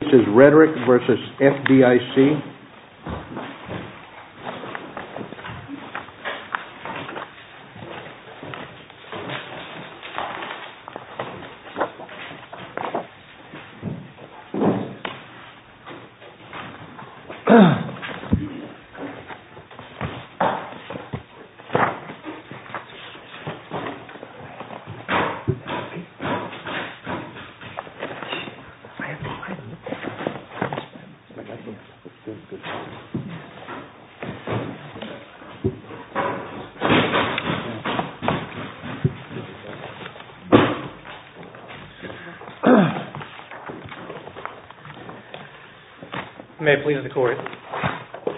This is Rhetoric v. FDIC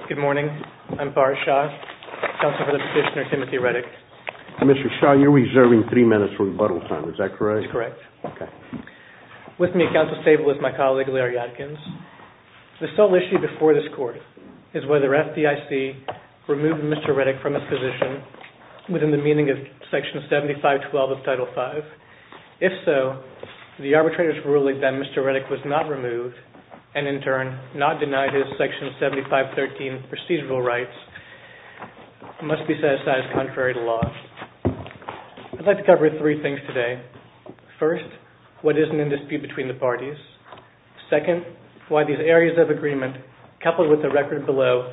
Good morning, I'm Farrar Shah, counsel for the petitioner Timothy Reddick. Commissioner Shah, you're reserving three minutes for rebuttal time, is that correct? That's correct. With me at counsel's table is my colleague Larry Atkins. The sole issue before this court is whether FDIC removed Mr. Reddick from his position within the meaning of section 7512 of Title V. If so, the arbitrator's ruling that Mr. Reddick was not removed and in turn not denied his section 7513 procedural rights must be set aside as contrary to law. I'd like to cover three things today. First, what is in the dispute between the parties. Second, why these areas of agreement coupled with the record below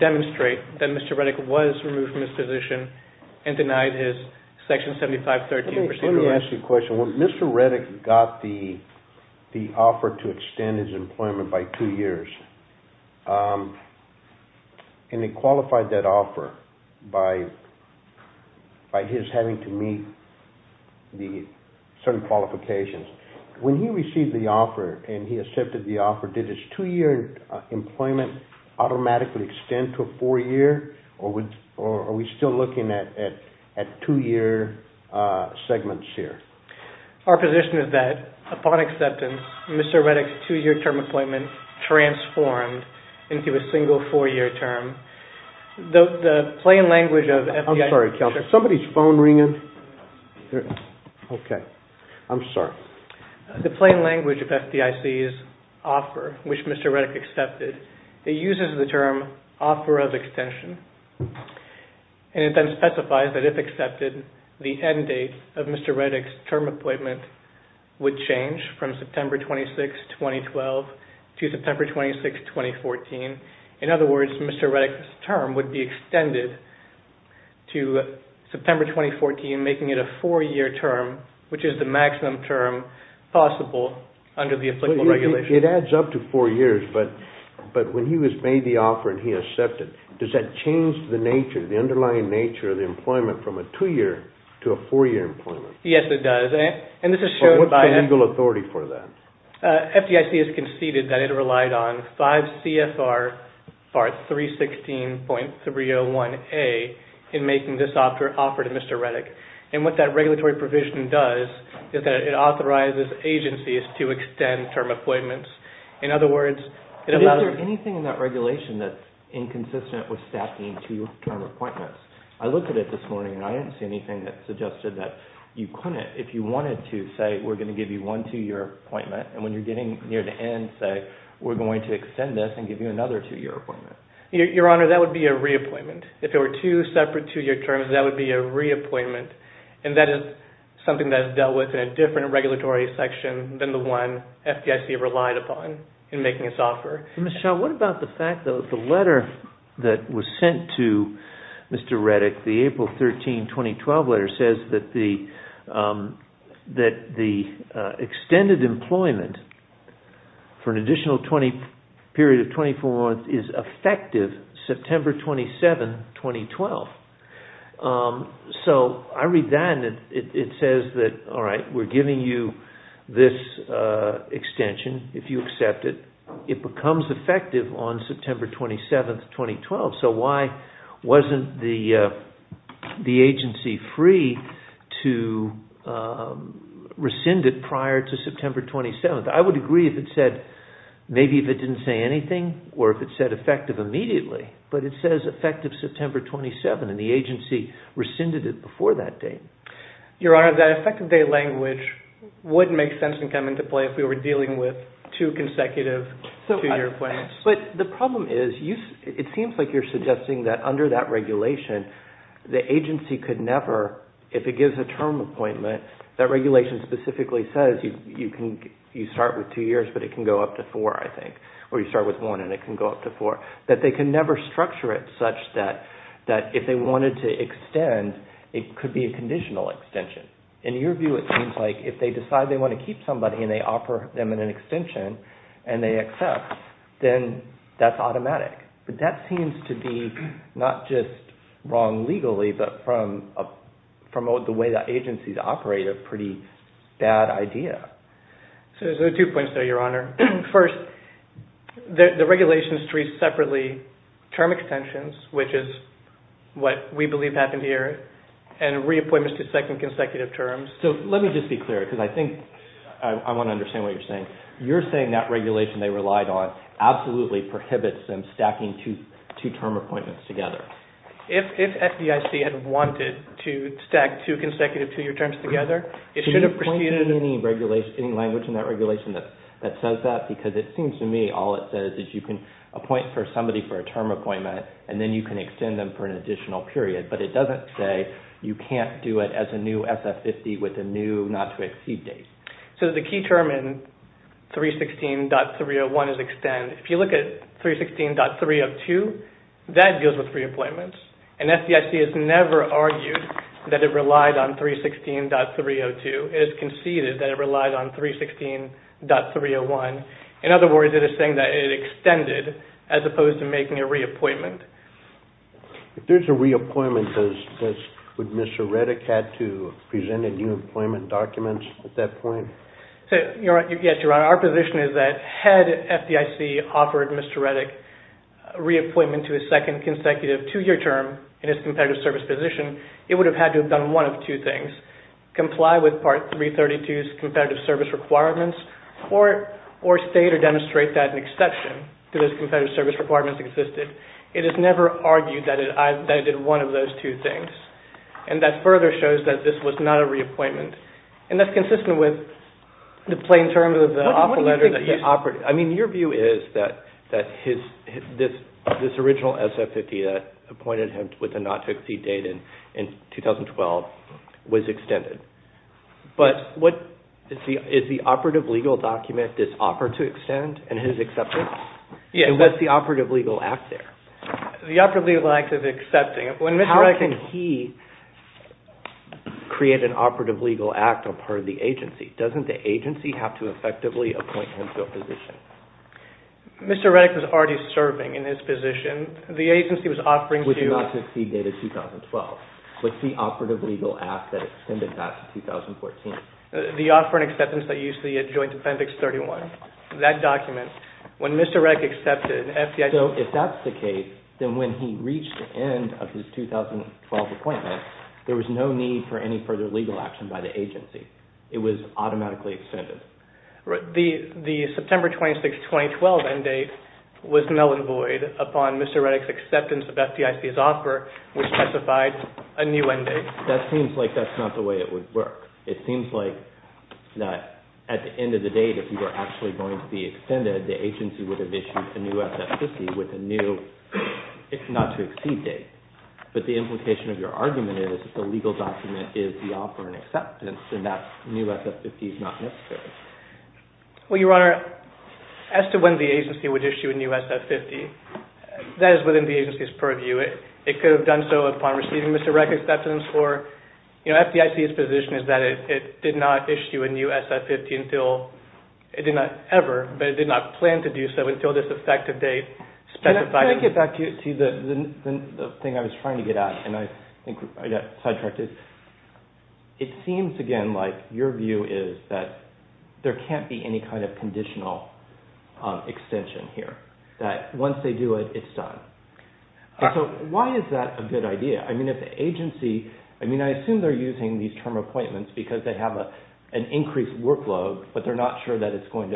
demonstrate that Mr. Reddick was removed from his position and denied his section 7513 procedural rights. Let me ask you a question. When Mr. Reddick got the offer to extend his employment by two years, and he qualified that offer by his having to meet certain qualifications, when he received the offer and he accepted the offer, did his two-year employment automatically extend to a four-year or are we still looking at two-year segments here? Our position is that upon acceptance, Mr. Reddick's two-year term employment transformed into a single four-year term. The plain language of FDIC's offer, which Mr. Reddick accepted, it uses the term offer of extension, and it then specifies that if accepted, the end date of Mr. Reddick's term appointment would change from September 26, 2012 to September 26, 2014. In other words, Mr. Reddick's term would be extended to September 2014, making it a four-year term, which is the maximum term possible under the applicable regulations. It adds up to four years, but when he was made the offer and he accepted, does that change the underlying nature of the employment from a two-year to a four-year employment? Yes, it does. What's the legal authority for that? FDIC has conceded that it relied on 5 CFR 316.301A in making this offer to Mr. Reddick. What that regulatory provision does is that it authorizes agencies to extend term appointments. In other words, it allows... Is there anything in that regulation that's inconsistent with stacking two-term appointments? I looked at it this morning and I didn't see anything that suggested that you couldn't, if you wanted to, say, we're going to give you one two-year appointment, and when you're getting near the end, say, we're going to extend this and give you another two-year appointment. Your Honor, that would be a reappointment. If there were two separate two-year terms, that would be a reappointment, and that is something that is dealt with in a different regulatory section than the one FDIC relied upon in making this offer. Michelle, what about the fact that the letter that was sent to Mr. Reddick, the April 13, 2012 letter, says that the extended employment for an additional period of 24 months is effective September 27, 2012. So I read that and it says that, all right, we're giving you this extension if you accept it. It becomes effective on September 27, 2012. So why wasn't the agency free to rescind it prior to September 27? I would agree if it said, maybe if it didn't say anything, or if it said effective immediately, but it says effective September 27, and the agency rescinded it before that date. Your Honor, that effective date language would make sense and come into play if we were dealing with two consecutive two-year appointments. But the problem is, it seems like you're suggesting that under that regulation, the agency could never, if it gives a term appointment, that regulation specifically says you start with two years, but it can go up to four, I think, or you start with one and it can go up to four, that they can never structure it such that if they wanted to extend, it could be a conditional extension. In your view, it seems like if they decide they want to keep somebody and they offer them an extension and they accept, then that's automatic. But that seems to be not just wrong legally, but from the way that agencies operate, a pretty bad idea. So there's two points there, Your Honor. First, the regulation treats separately term extensions, which is what we believe happened here, and reappointments to second consecutive terms. So let me just be clear, because I think I want to understand what you're saying. You're saying that regulation they relied on absolutely prohibits them stacking two term appointments together. If FDIC had wanted to stack two consecutive two-year terms together, it should have proceeded... Can you point to any language in that regulation that says that? Because it seems to me all it says is you can appoint somebody for a term appointment and then you can extend them for an additional period. But it doesn't say you can't do it as a new SF50 with a new not-to-exceed date. So the key term in 316.301 is extend. If you look at 316.302, that deals with reappointments. And FDIC has never argued that it relied on 316.302. It has conceded that it relied on 316.301. In other words, it is saying that it extended as opposed to making a reappointment. If there's a reappointment, would Mr. Reddick have to present a new employment document at that point? Yes, Your Honor. Our position is that had FDIC offered Mr. Reddick reappointment to his second consecutive two-year term in his competitive service position, it would have had to have done one of two things. Comply with Part 332's competitive service requirements or state or demonstrate that an exception to those competitive service requirements existed. It has never argued that it did one of those two things. And that further shows that this was not a reappointment. And that's consistent with the plain terms of the offer letter that he offered. I mean, your view is that this original SF50 that appointed him with a not-to-exceed date in 2012 was extended. But is the operative legal document this offer to extend in his acceptance? Yes. And what's the operative legal act there? The operative legal act is accepting. How can he create an operative legal act on part of the agency? Doesn't the agency have to effectively appoint him to a position? Mr. Reddick was already serving in his position. The agency was offering to... With a not-to-exceed date of 2012. What's the operative legal act that extended back to 2014? The offer and acceptance that you see at Joint Appendix 31. That document. When Mr. Reddick accepted, FDIC... So if that's the case, then when he reached the end of his 2012 appointment, there was no need for any further legal action by the agency. It was automatically extended. The September 26, 2012 end date was null and void upon Mr. Reddick's acceptance of FDIC's offer, which specified a new end date. That seems like that's not the way it would work. It seems like that at the end of the date, if you were actually going to be extended, the agency would have issued a new SF-50 with a new not-to-exceed date. But the implication of your argument is that the legal document is the offer and acceptance, and that new SF-50 is not necessary. Well, Your Honor, as to when the agency would issue a new SF-50, that is within the agency's purview. It could have done so upon receiving Mr. Reddick's acceptance, or FDIC's position is that it did not issue a new SF-50 until... It did not ever, but it did not plan to do so until this effective date specified... Can I get back to the thing I was trying to get at, and I think I got sidetracked? It seems, again, like your view is that there can't be any kind of conditional extension here, that once they do it, it's done. So why is that a good idea? I mean, I assume they're using these term appointments because they have an increased workload, but they're not sure that it's going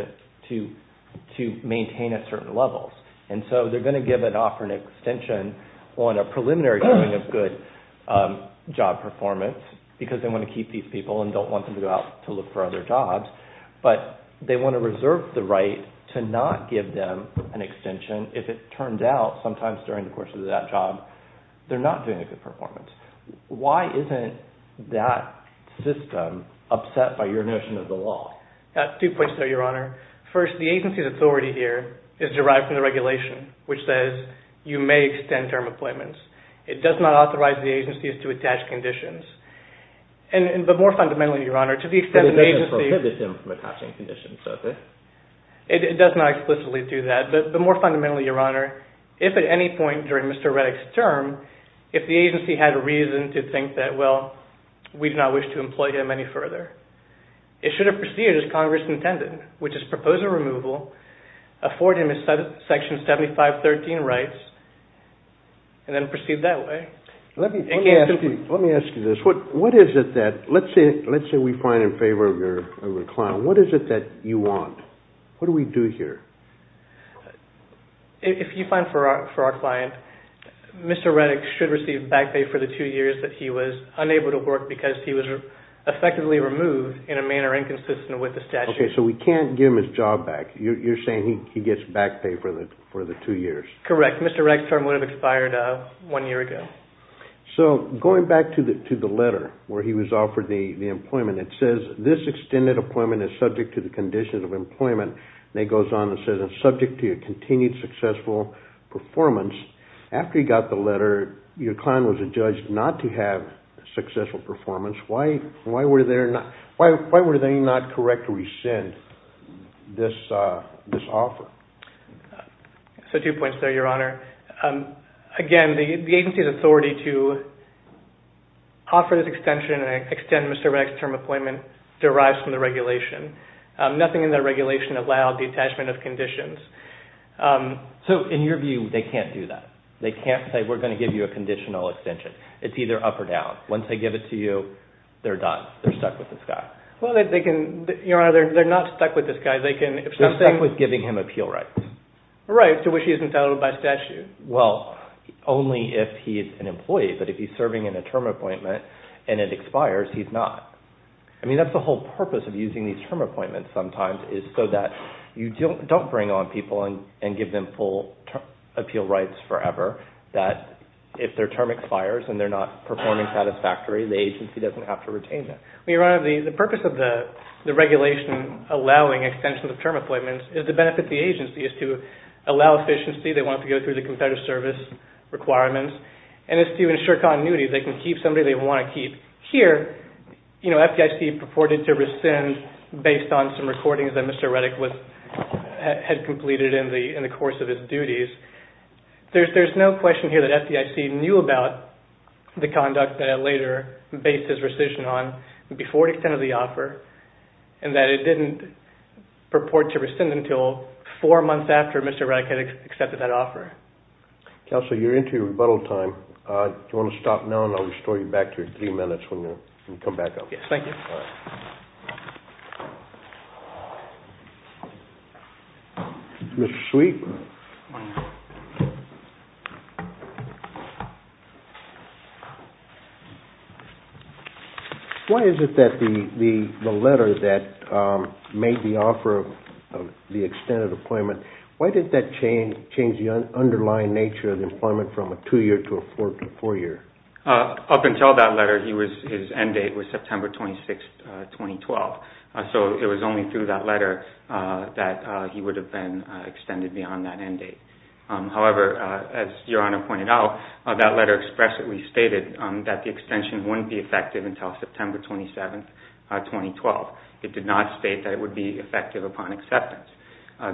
to maintain at certain levels. And so they're going to offer an extension on a preliminary showing of good job performance because they want to keep these people and don't want them to go out to look for other jobs, but they want to reserve the right to not give them an extension if it turns out, sometimes during the course of that job, they're not doing a good performance. Why isn't that system upset by your notion of the law? Two points there, Your Honor. First, the agency's authority here is derived from the regulation, which says you may extend term appointments. It does not authorize the agencies to attach conditions. But more fundamentally, Your Honor, to the extent an agency... But it doesn't prohibit them from attaching conditions, does it? It does not explicitly do that. But more fundamentally, Your Honor, if at any point during Mr. Reddick's term, if the agency had a reason to think that, well, we do not wish to employ him any further, it should have proceeded as Congress intended, which is propose a removal, afford him his Section 7513 rights, and then proceed that way. Let me ask you this. What is it that... Let's say we find in favor of your client. What is it that you want? What do we do here? If you find for our client, Mr. Reddick should receive back pay for the two years that he was unable to work because he was effectively removed in a manner inconsistent with the statute. Okay, so we can't give him his job back. You're saying he gets back pay for the two years. Correct. Mr. Reddick's term would have expired one year ago. So going back to the letter where he was offered the employment, it says this extended employment is subject to the conditions of employment, and it goes on and says it's subject to your continued successful performance. After you got the letter, your client was adjudged not to have successful performance. Why were they not correct to rescind this offer? So two points there, Your Honor. Again, the agency's authority to offer this extension and extend Mr. Reddick's term of employment derives from the regulation. Nothing in the regulation allowed the attachment of conditions. So in your view, they can't do that. They can't say we're going to give you a conditional extension. It's either up or down. Once they give it to you, they're done. They're stuck with this guy. Your Honor, they're not stuck with this guy. They're stuck with giving him appeal rights. Rights to which he is entitled by statute. Well, only if he is an employee, but if he's serving in a term appointment and it expires, he's not. I mean, that's the whole purpose of using these term appointments sometimes is so that you don't bring on people and give them full appeal rights forever, that if their term expires and they're not performing satisfactorily, the agency doesn't have to retain them. Your Honor, the purpose of the regulation allowing extension of term appointments is to benefit the agency, is to allow efficiency. They want to go through the competitive service requirements, and it's to ensure continuity. They can keep somebody they want to keep. Here, FDIC purported to rescind based on some recordings that Mr. Reddick had completed in the course of his duties. There's no question here that FDIC knew about the conduct that it later based its rescission on before it extended the offer and that it didn't purport to rescind until four months after Mr. Reddick had accepted that offer. Counsel, you're into your rebuttal time. Do you want to stop now and I'll restore you back to your three minutes when you come back up? Yes, thank you. Mr. Sweet. Why is it that the letter that made the offer of the extended appointment, why did that change the underlying nature of the employment from a two-year to a four-year? Up until that letter, his end date was September 26, 2012, so it was only through that letter that he would have been extended beyond four months. However, as Your Honor pointed out, that letter expressly stated that the extension wouldn't be effective until September 27, 2012. It did not state that it would be effective upon acceptance.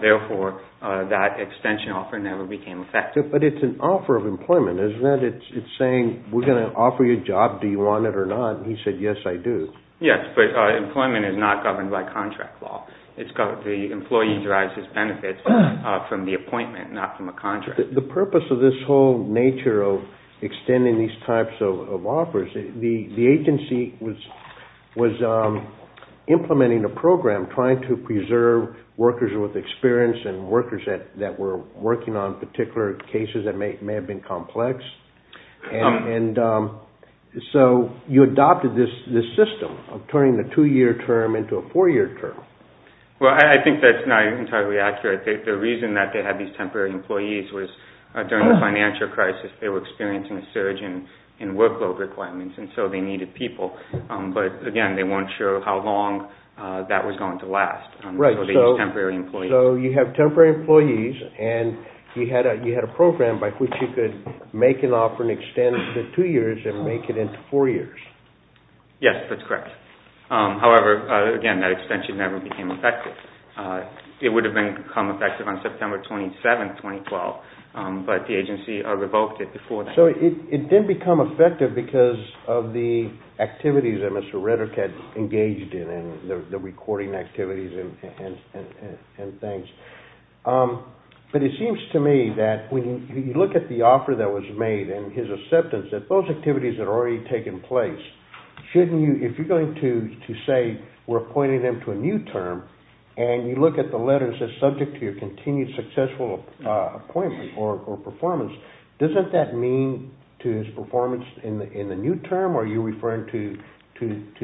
Therefore, that extension offer never became effective. But it's an offer of employment, isn't it? It's saying we're going to offer you a job. Do you want it or not? He said, yes, I do. Yes, but employment is not governed by contract law. The employee derives his benefits from the appointment, not from a contract. The purpose of this whole nature of extending these types of offers, the agency was implementing a program trying to preserve workers with experience and workers that were working on particular cases that may have been complex, and so you adopted this system of turning the two-year term into a four-year term. Well, I think that's not entirely accurate. The reason that they had these temporary employees was during the financial crisis, they were experiencing a surge in workload requirements, and so they needed people. But again, they weren't sure how long that was going to last. Right, so you have temporary employees, and you had a program by which you could make an offer and extend it to two years and make it into four years. Yes, that's correct. However, again, that extension never became effective. It would have become effective on September 27, 2012, but the agency revoked it before that. So it didn't become effective because of the activities that Mr. Reddick had engaged in, the recording activities and things. But it seems to me that when you look at the offer that was made and his acceptance that those activities had already taken place, if you're going to say we're appointing him to a new term and you look at the letters that said subject to your continued successful appointment or performance, doesn't that mean to his performance in the new term, or are you referring to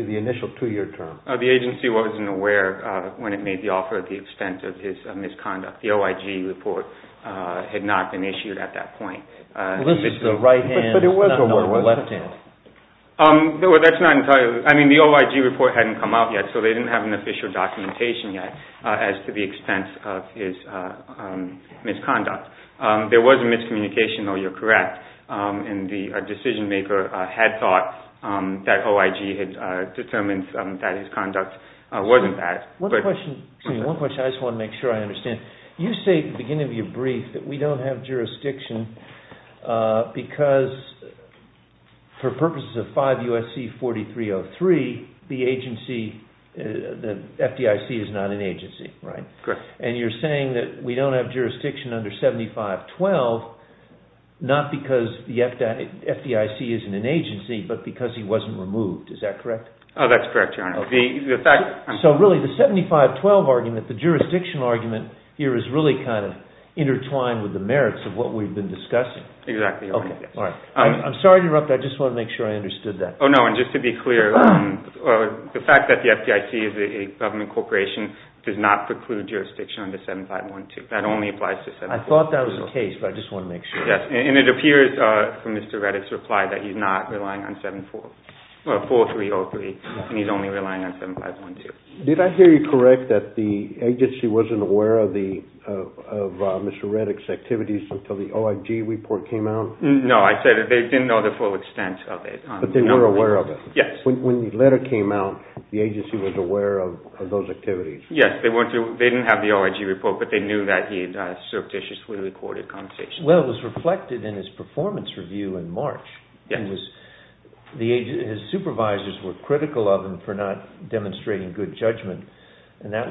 the initial two-year term? The agency wasn't aware when it made the offer at the expense of his misconduct. The OIG report had not been issued at that point. This is the right hand, not the left hand. That's not entirely true. I mean, the OIG report hadn't come out yet, so they didn't have an official documentation yet as to the expense of his misconduct. There was a miscommunication, though you're correct, and the decision maker had thought that OIG had determined that his conduct wasn't bad. One question I just want to make sure I understand. You say at the beginning of your brief that we don't have jurisdiction because for purposes of 5 U.S.C. 4303, the agency, the FDIC is not an agency, right? Correct. And you're saying that we don't have jurisdiction under 7512 not because the FDIC isn't an agency, but because he wasn't removed. Is that correct? Oh, that's correct, Your Honor. So really, the 7512 argument, the jurisdiction argument here, is really kind of intertwined with the merits of what we've been discussing. Exactly. I'm sorry to interrupt. I just want to make sure I understood that. Oh, no, and just to be clear, the fact that the FDIC is a government corporation does not preclude jurisdiction under 7512. That only applies to 7512. I thought that was the case, but I just want to make sure. Yes, and it appears from Mr. Reddick's reply that he's not relying on 4303 and he's only relying on 7512. Did I hear you correct that the agency wasn't aware of Mr. Reddick's activities until the OIG report came out? No, I said that they didn't know the full extent of it. But they were aware of it. Yes. When the letter came out, the agency was aware of those activities. Yes, they didn't have the OIG report, but they knew that he had surreptitiously recorded conversations. Well, it was reflected in his performance review in March. Yes. His supervisors were critical of him for not demonstrating good judgment, and that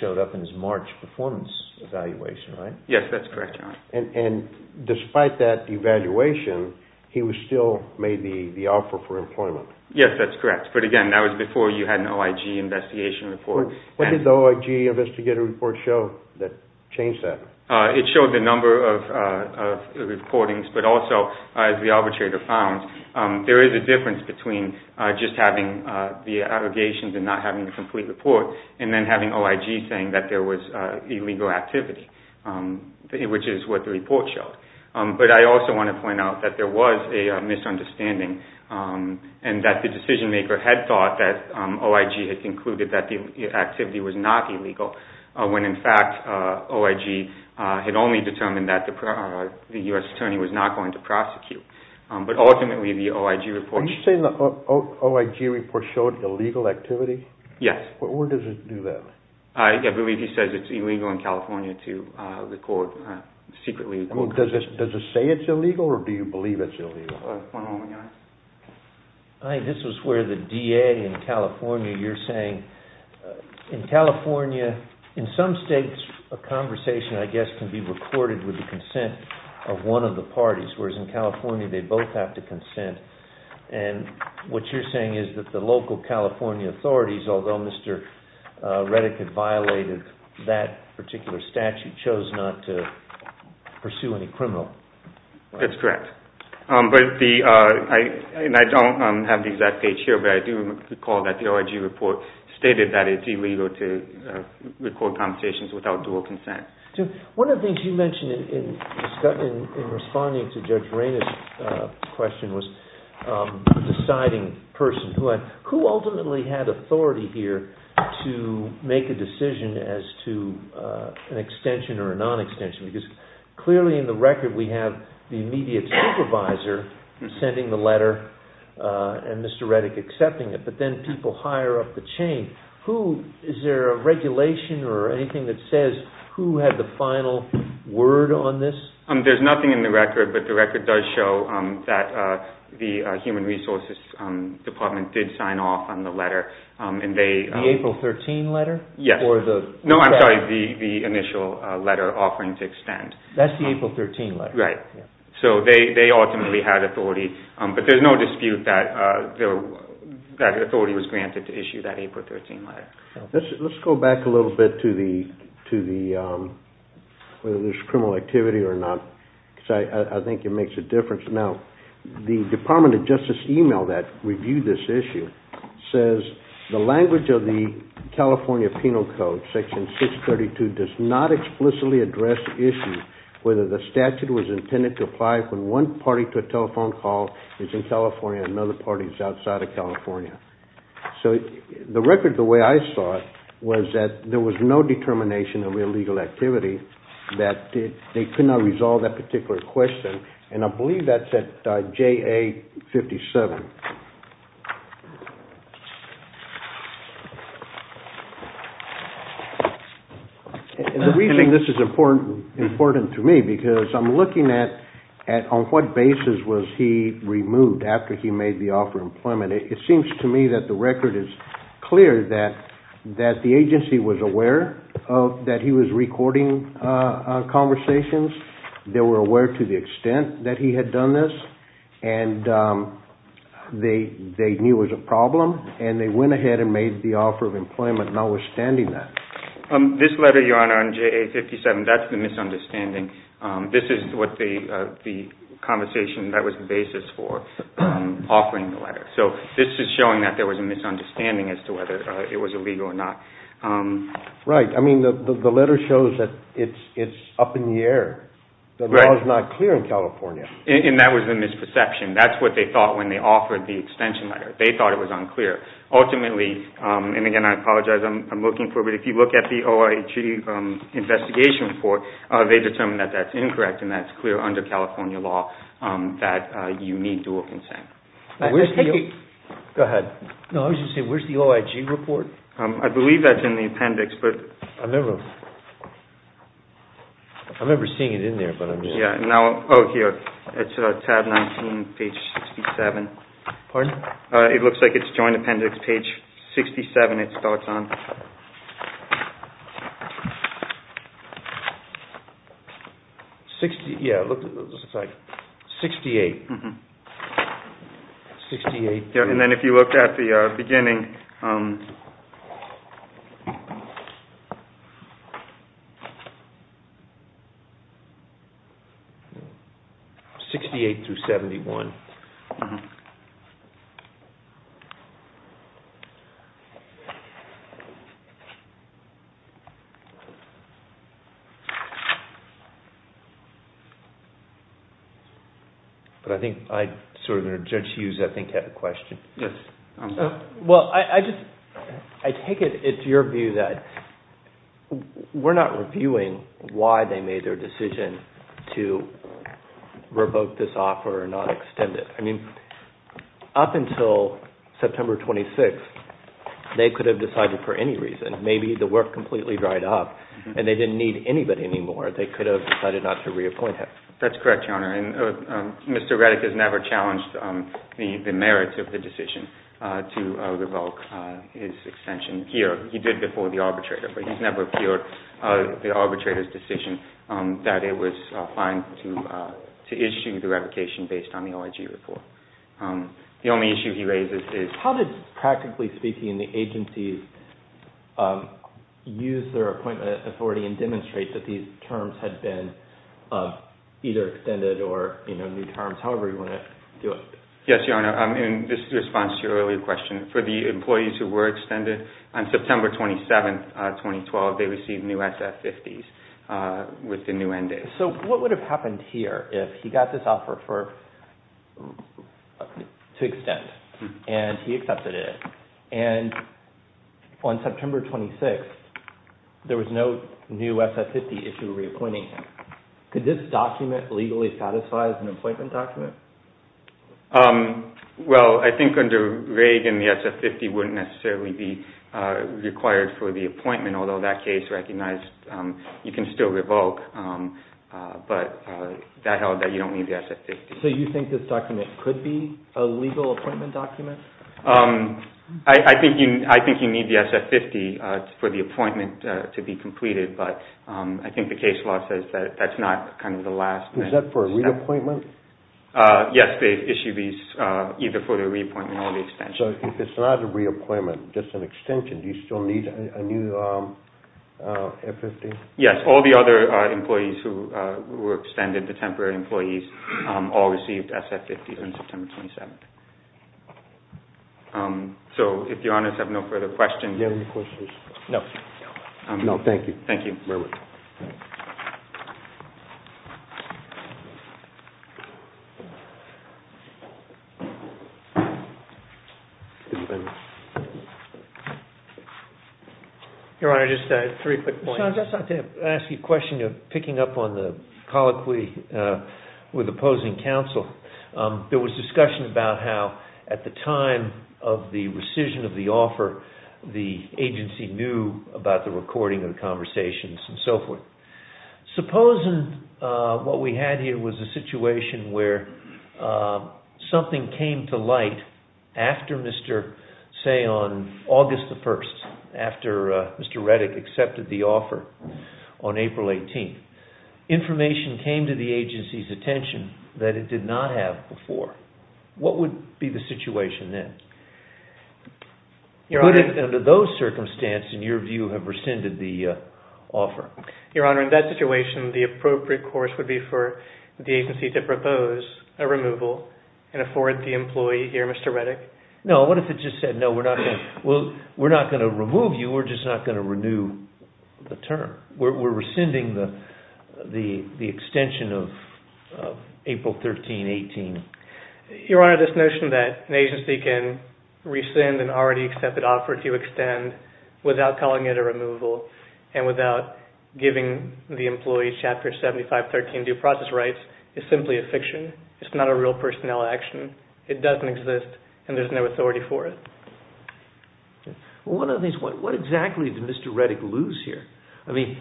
showed up in his March performance evaluation, right? Yes, that's correct. And despite that evaluation, he still made the offer for employment. Yes, that's correct. But again, that was before you had an OIG investigation report. What did the OIG investigative report show that changed that? It showed the number of recordings, but also, as the arbitrator found, there is a difference between just having the allegations and not having the complete report and then having OIG saying that there was illegal activity, which is what the report showed. But I also want to point out that there was a misunderstanding and that the decision maker had thought that OIG had concluded that the activity was not illegal, when in fact OIG had only determined that the U.S. attorney was not going to prosecute. But ultimately, the OIG report showed illegal activity? Yes. Where does it do that? I believe he says it's illegal in California to record secretly. I think this is where the DA in California, you're saying in California, in some states a conversation, I guess, can be recorded with the consent of one of the parties, whereas in California they both have to consent. And what you're saying is that the local California authorities, although Mr. Reddick had violated that particular statute, chose not to pursue any criminal. That's correct. I don't have the exact page here, but I do recall that the OIG report stated that it's illegal to record conversations without dual consent. One of the things you mentioned in responding to Judge Rainer's question was deciding persons. Who ultimately had authority here to make a decision as to an extension or a non-extension? Because clearly in the record we have the immediate supervisor sending the letter and Mr. Reddick accepting it, but then people higher up the chain. Is there a regulation or anything that says who had the final word on this? There's nothing in the record, but the record does show that the Human Resources Department did sign off on the letter. The April 13 letter? Yes. No, I'm sorry, the initial letter offering to extend. That's the April 13 letter. Right. So they ultimately had authority, but there's no dispute that authority was granted to issue that April 13 letter. Let's go back a little bit to whether there's criminal activity or not, because I think it makes a difference. Now, the Department of Justice email that reviewed this issue says, the language of the California Penal Code, Section 632, does not explicitly address the issue whether the statute was intended to apply when one party to a telephone call is in California and another party is outside of California. So the record, the way I saw it, was that there was no determination of illegal activity, that they could not resolve that particular question, and I believe that's at JA57. The reason this is important to me, because I'm looking at on what basis was he removed after he made the offer of employment. It seems to me that the record is clear that the agency was aware that he was recording conversations. They were aware to the extent that he had done this, and they knew it was a problem, and they went ahead and made the offer of employment notwithstanding that. This letter, Your Honor, on JA57, that's the misunderstanding. This is what the conversation that was the basis for offering the letter. So this is showing that there was a misunderstanding as to whether it was illegal or not. Right. I mean, the letter shows that it's up in the air. The law is not clear in California. And that was the misperception. That's what they thought when they offered the extension letter. They thought it was unclear. Ultimately, and again, I apologize, I'm looking for it, but if you look at the OIG investigation report, they determined that that's incorrect and that's clear under California law that you need dual consent. Go ahead. No, I was just going to say, where's the OIG report? I believe that's in the appendix. I remember seeing it in there, but I'm not sure. Oh, here. It's tab 19, page 67. Pardon? It looks like it's joint appendix, page 67 it starts on. Yeah, it looks like 68. 68. And then if you look at the beginning. 68 through 71. But I think Judge Hughes, I think, had a question. Yes, I'm sorry. Well, I take it it's your view that we're not reviewing why they made their decision to revoke this offer and not extend the extension. I mean, up until September 26, they could have decided for any reason. Maybe the work completely dried up and they didn't need anybody anymore. They could have decided not to reappoint him. That's correct, Your Honor. And Mr. Reddick has never challenged the merits of the decision to revoke his extension here. He did before the arbitrator, but he's never appealed the arbitrator's decision that it was fine to issue the revocation based on the OIG report. The only issue he raises is... How did, practically speaking, the agencies use their appointment authority and demonstrate that these terms had been either extended or new terms, however you want to do it? Yes, Your Honor. And this is in response to your earlier question. For the employees who were extended, on September 27, 2012, they received new SF50s. With the new NDAs. So what would have happened here if he got this offer to extend and he accepted it? And on September 26, there was no new SF50 issued reappointing him. Could this document legally satisfy as an appointment document? Well, I think under Reagan, the SF50 wouldn't necessarily be required for the appointment, although that case recognized you can still revoke, but that held that you don't need the SF50. So you think this document could be a legal appointment document? I think you need the SF50 for the appointment to be completed, but I think the case law says that that's not kind of the last thing. Is that for a reappointment? Yes, they issue these either for the reappointment or the extension. So if it's not a reappointment, just an extension, do you still need a new SF50? Yes, all the other employees who were extended, the temporary employees, all received SF50s on September 27. So if Your Honors have no further questions... Do you have any questions? No. No, thank you. Thank you. Your Honor, just three quick points. I'd just like to ask you a question of picking up on the colloquy with opposing counsel. There was discussion about how at the time of the rescission of the offer, the agency knew about the recording of the conversations and so forth. Supposing what we had here was a situation where something came to light after, say, on August 1, after Mr. Reddick accepted the offer on April 18. Information came to the agency's attention that it did not have before. What would be the situation then? Your Honor... Under those circumstances, in your view, have rescinded the offer? Your Honor, in that situation, the appropriate course would be for the agency to propose a removal and afford the employee here, Mr. Reddick? No, what if it just said, no, we're not going to remove you, we're just not going to renew the term. We're rescinding the extension of April 13, 18. Your Honor, this notion that an agency can rescind an already accepted offer to extend without calling it a removal and without giving the employee Chapter 7513 due process rights is simply a fiction. It's not a real personnel action. It doesn't exist and there's no authority for it. Well, one of the things, what exactly did Mr. Reddick lose here? I mean,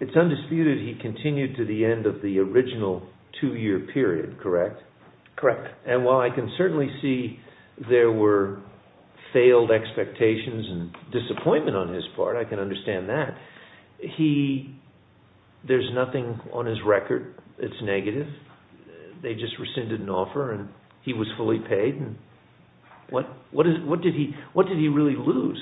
it's undisputed he continued to the end of the original two-year period, correct? Correct. And while I can certainly see there were failed expectations and disappointment on his part, There's nothing on his record that's negative. They just rescinded an offer and he was fully paid. What did he really lose?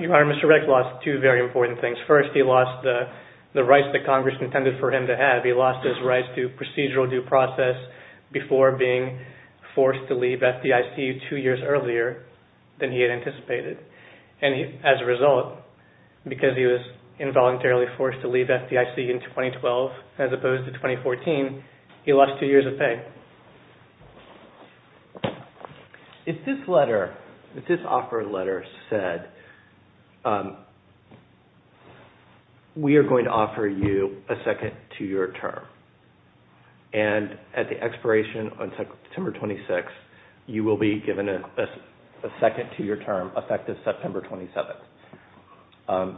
Your Honor, Mr. Reddick lost two very important things. First, he lost the rights that Congress intended for him to have. He lost his rights to procedural due process before being forced to leave FDIC two years earlier than he had anticipated. And as a result, because he was involuntarily forced to leave FDIC in 2012 as opposed to 2014, he lost two years of pay. If this letter, if this offer letter said, we are going to offer you a second two-year term and at the expiration on September 26th, you will be given a second two-year term effective September 27th.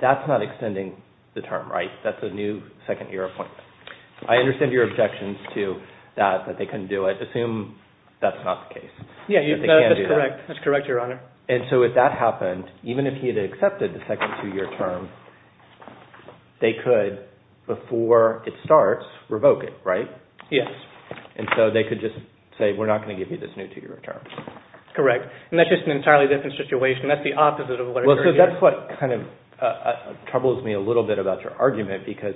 That's not extending the term, right? That's a new second-year appointment. I understand your objections to that, that they couldn't do it. Assume that's not the case. Yeah, that's correct. That's correct, Your Honor. And so if that happened, even if he had accepted the second two-year term, they could, before it starts, revoke it, right? Yes. And so they could just say, we're not going to give you this new two-year term. Correct. And that's just an entirely different situation. That's the opposite of what occurred here. Well, so that's what kind of troubles me a little bit about your argument, because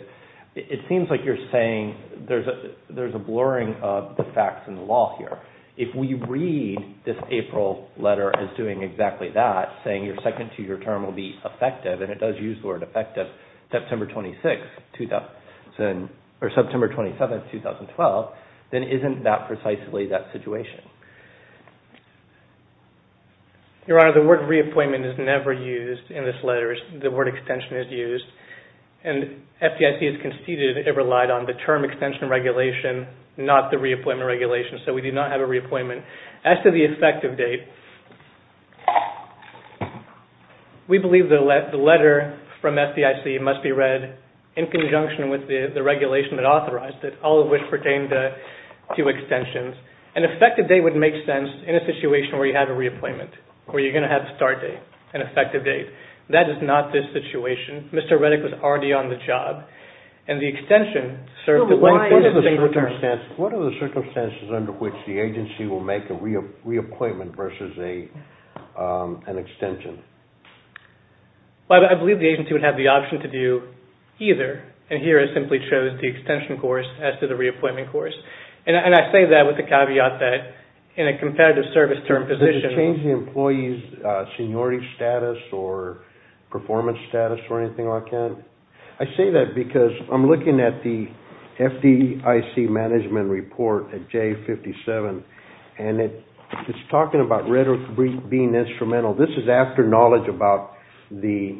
it seems like you're saying there's a blurring of the facts and the law here. If we read this April letter as doing exactly that, saying your second two-year term will be effective, and it does use the word effective, September 26th, or September 27th, 2012, then isn't that precisely that situation? Your Honor, the word reappointment is never used in this letter. The word extension is used. And FDIC has conceded it relied on the term extension regulation, not the reappointment regulation. So we do not have a reappointment. As to the effective date, we believe the letter from FDIC must be read in conjunction with the regulation that authorized it, all of which pertain to extensions. An effective date would make sense in a situation where you have a reappointment, where you're going to have a start date, an effective date. That is not this situation. Mr. Reddick was already on the job. And the extension served to... What are the circumstances under which the agency will make a reappointment versus an extension? Well, I believe the agency would have the option to do either. And here I simply chose the extension course as to the reappointment course. And I say that with the caveat that in a competitive service term position... Does this change the employee's seniority status or performance status or anything like that? I say that because I'm looking at the FDIC management report at J57. And it's talking about rhetoric being instrumental. This is after knowledge about the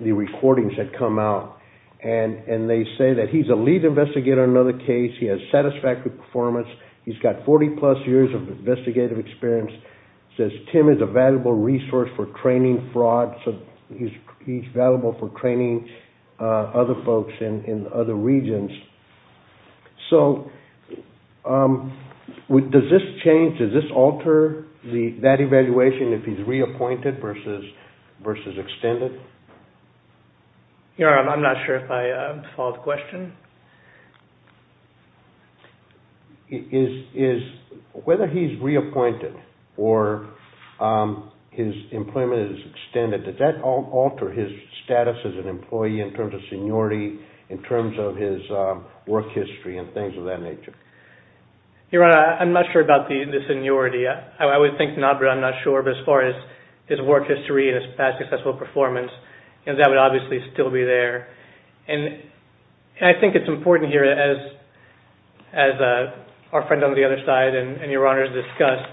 recordings that come out. And they say that he's a lead investigator on another case. He has satisfactory performance. He's got 40-plus years of investigative experience. Says Tim is a valuable resource for training fraud. He's valuable for training other folks in other regions. So does this change, does this alter that evaluation if he's reappointed versus extended? I'm not sure if I followed the question. Whether he's reappointed or his employment is extended, does that alter his status as an employee in terms of seniority, in terms of his work history and things of that nature? Your Honor, I'm not sure about the seniority. I would think not, but I'm not sure. But as far as his work history and his past successful performance, that would obviously still be there. And I think it's important here, as our friend on the other side and Your Honor has discussed,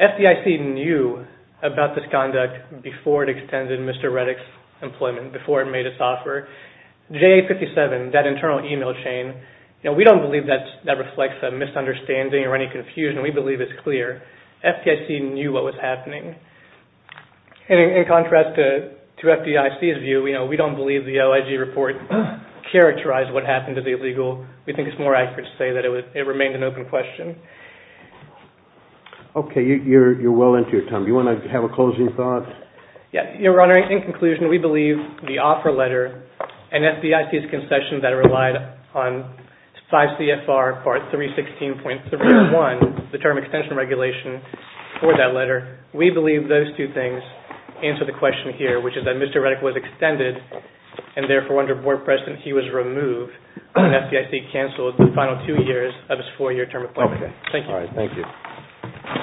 FDIC knew about this conduct before it extended Mr. Reddick's employment, before it made its offer. J57, that internal email chain, we don't believe that reflects a misunderstanding or any confusion. We believe it's clear. FDIC knew what was happening. And in contrast to FDIC's view, we don't believe the OIG report characterized what happened to the illegal. We think it's more accurate to say that it remained an open question. Okay, you're well into your time. Do you want to have a closing thought? Your Honor, in conclusion, we believe the offer letter and FDIC's concession that relied on 5 CFR Part 316.31, the term extension regulation for that letter, we believe those two things answer the question here, which is that Mr. Reddick was extended, and therefore under board precedent he was removed, and FDIC canceled the final two years of his four-year term employment. Thank you.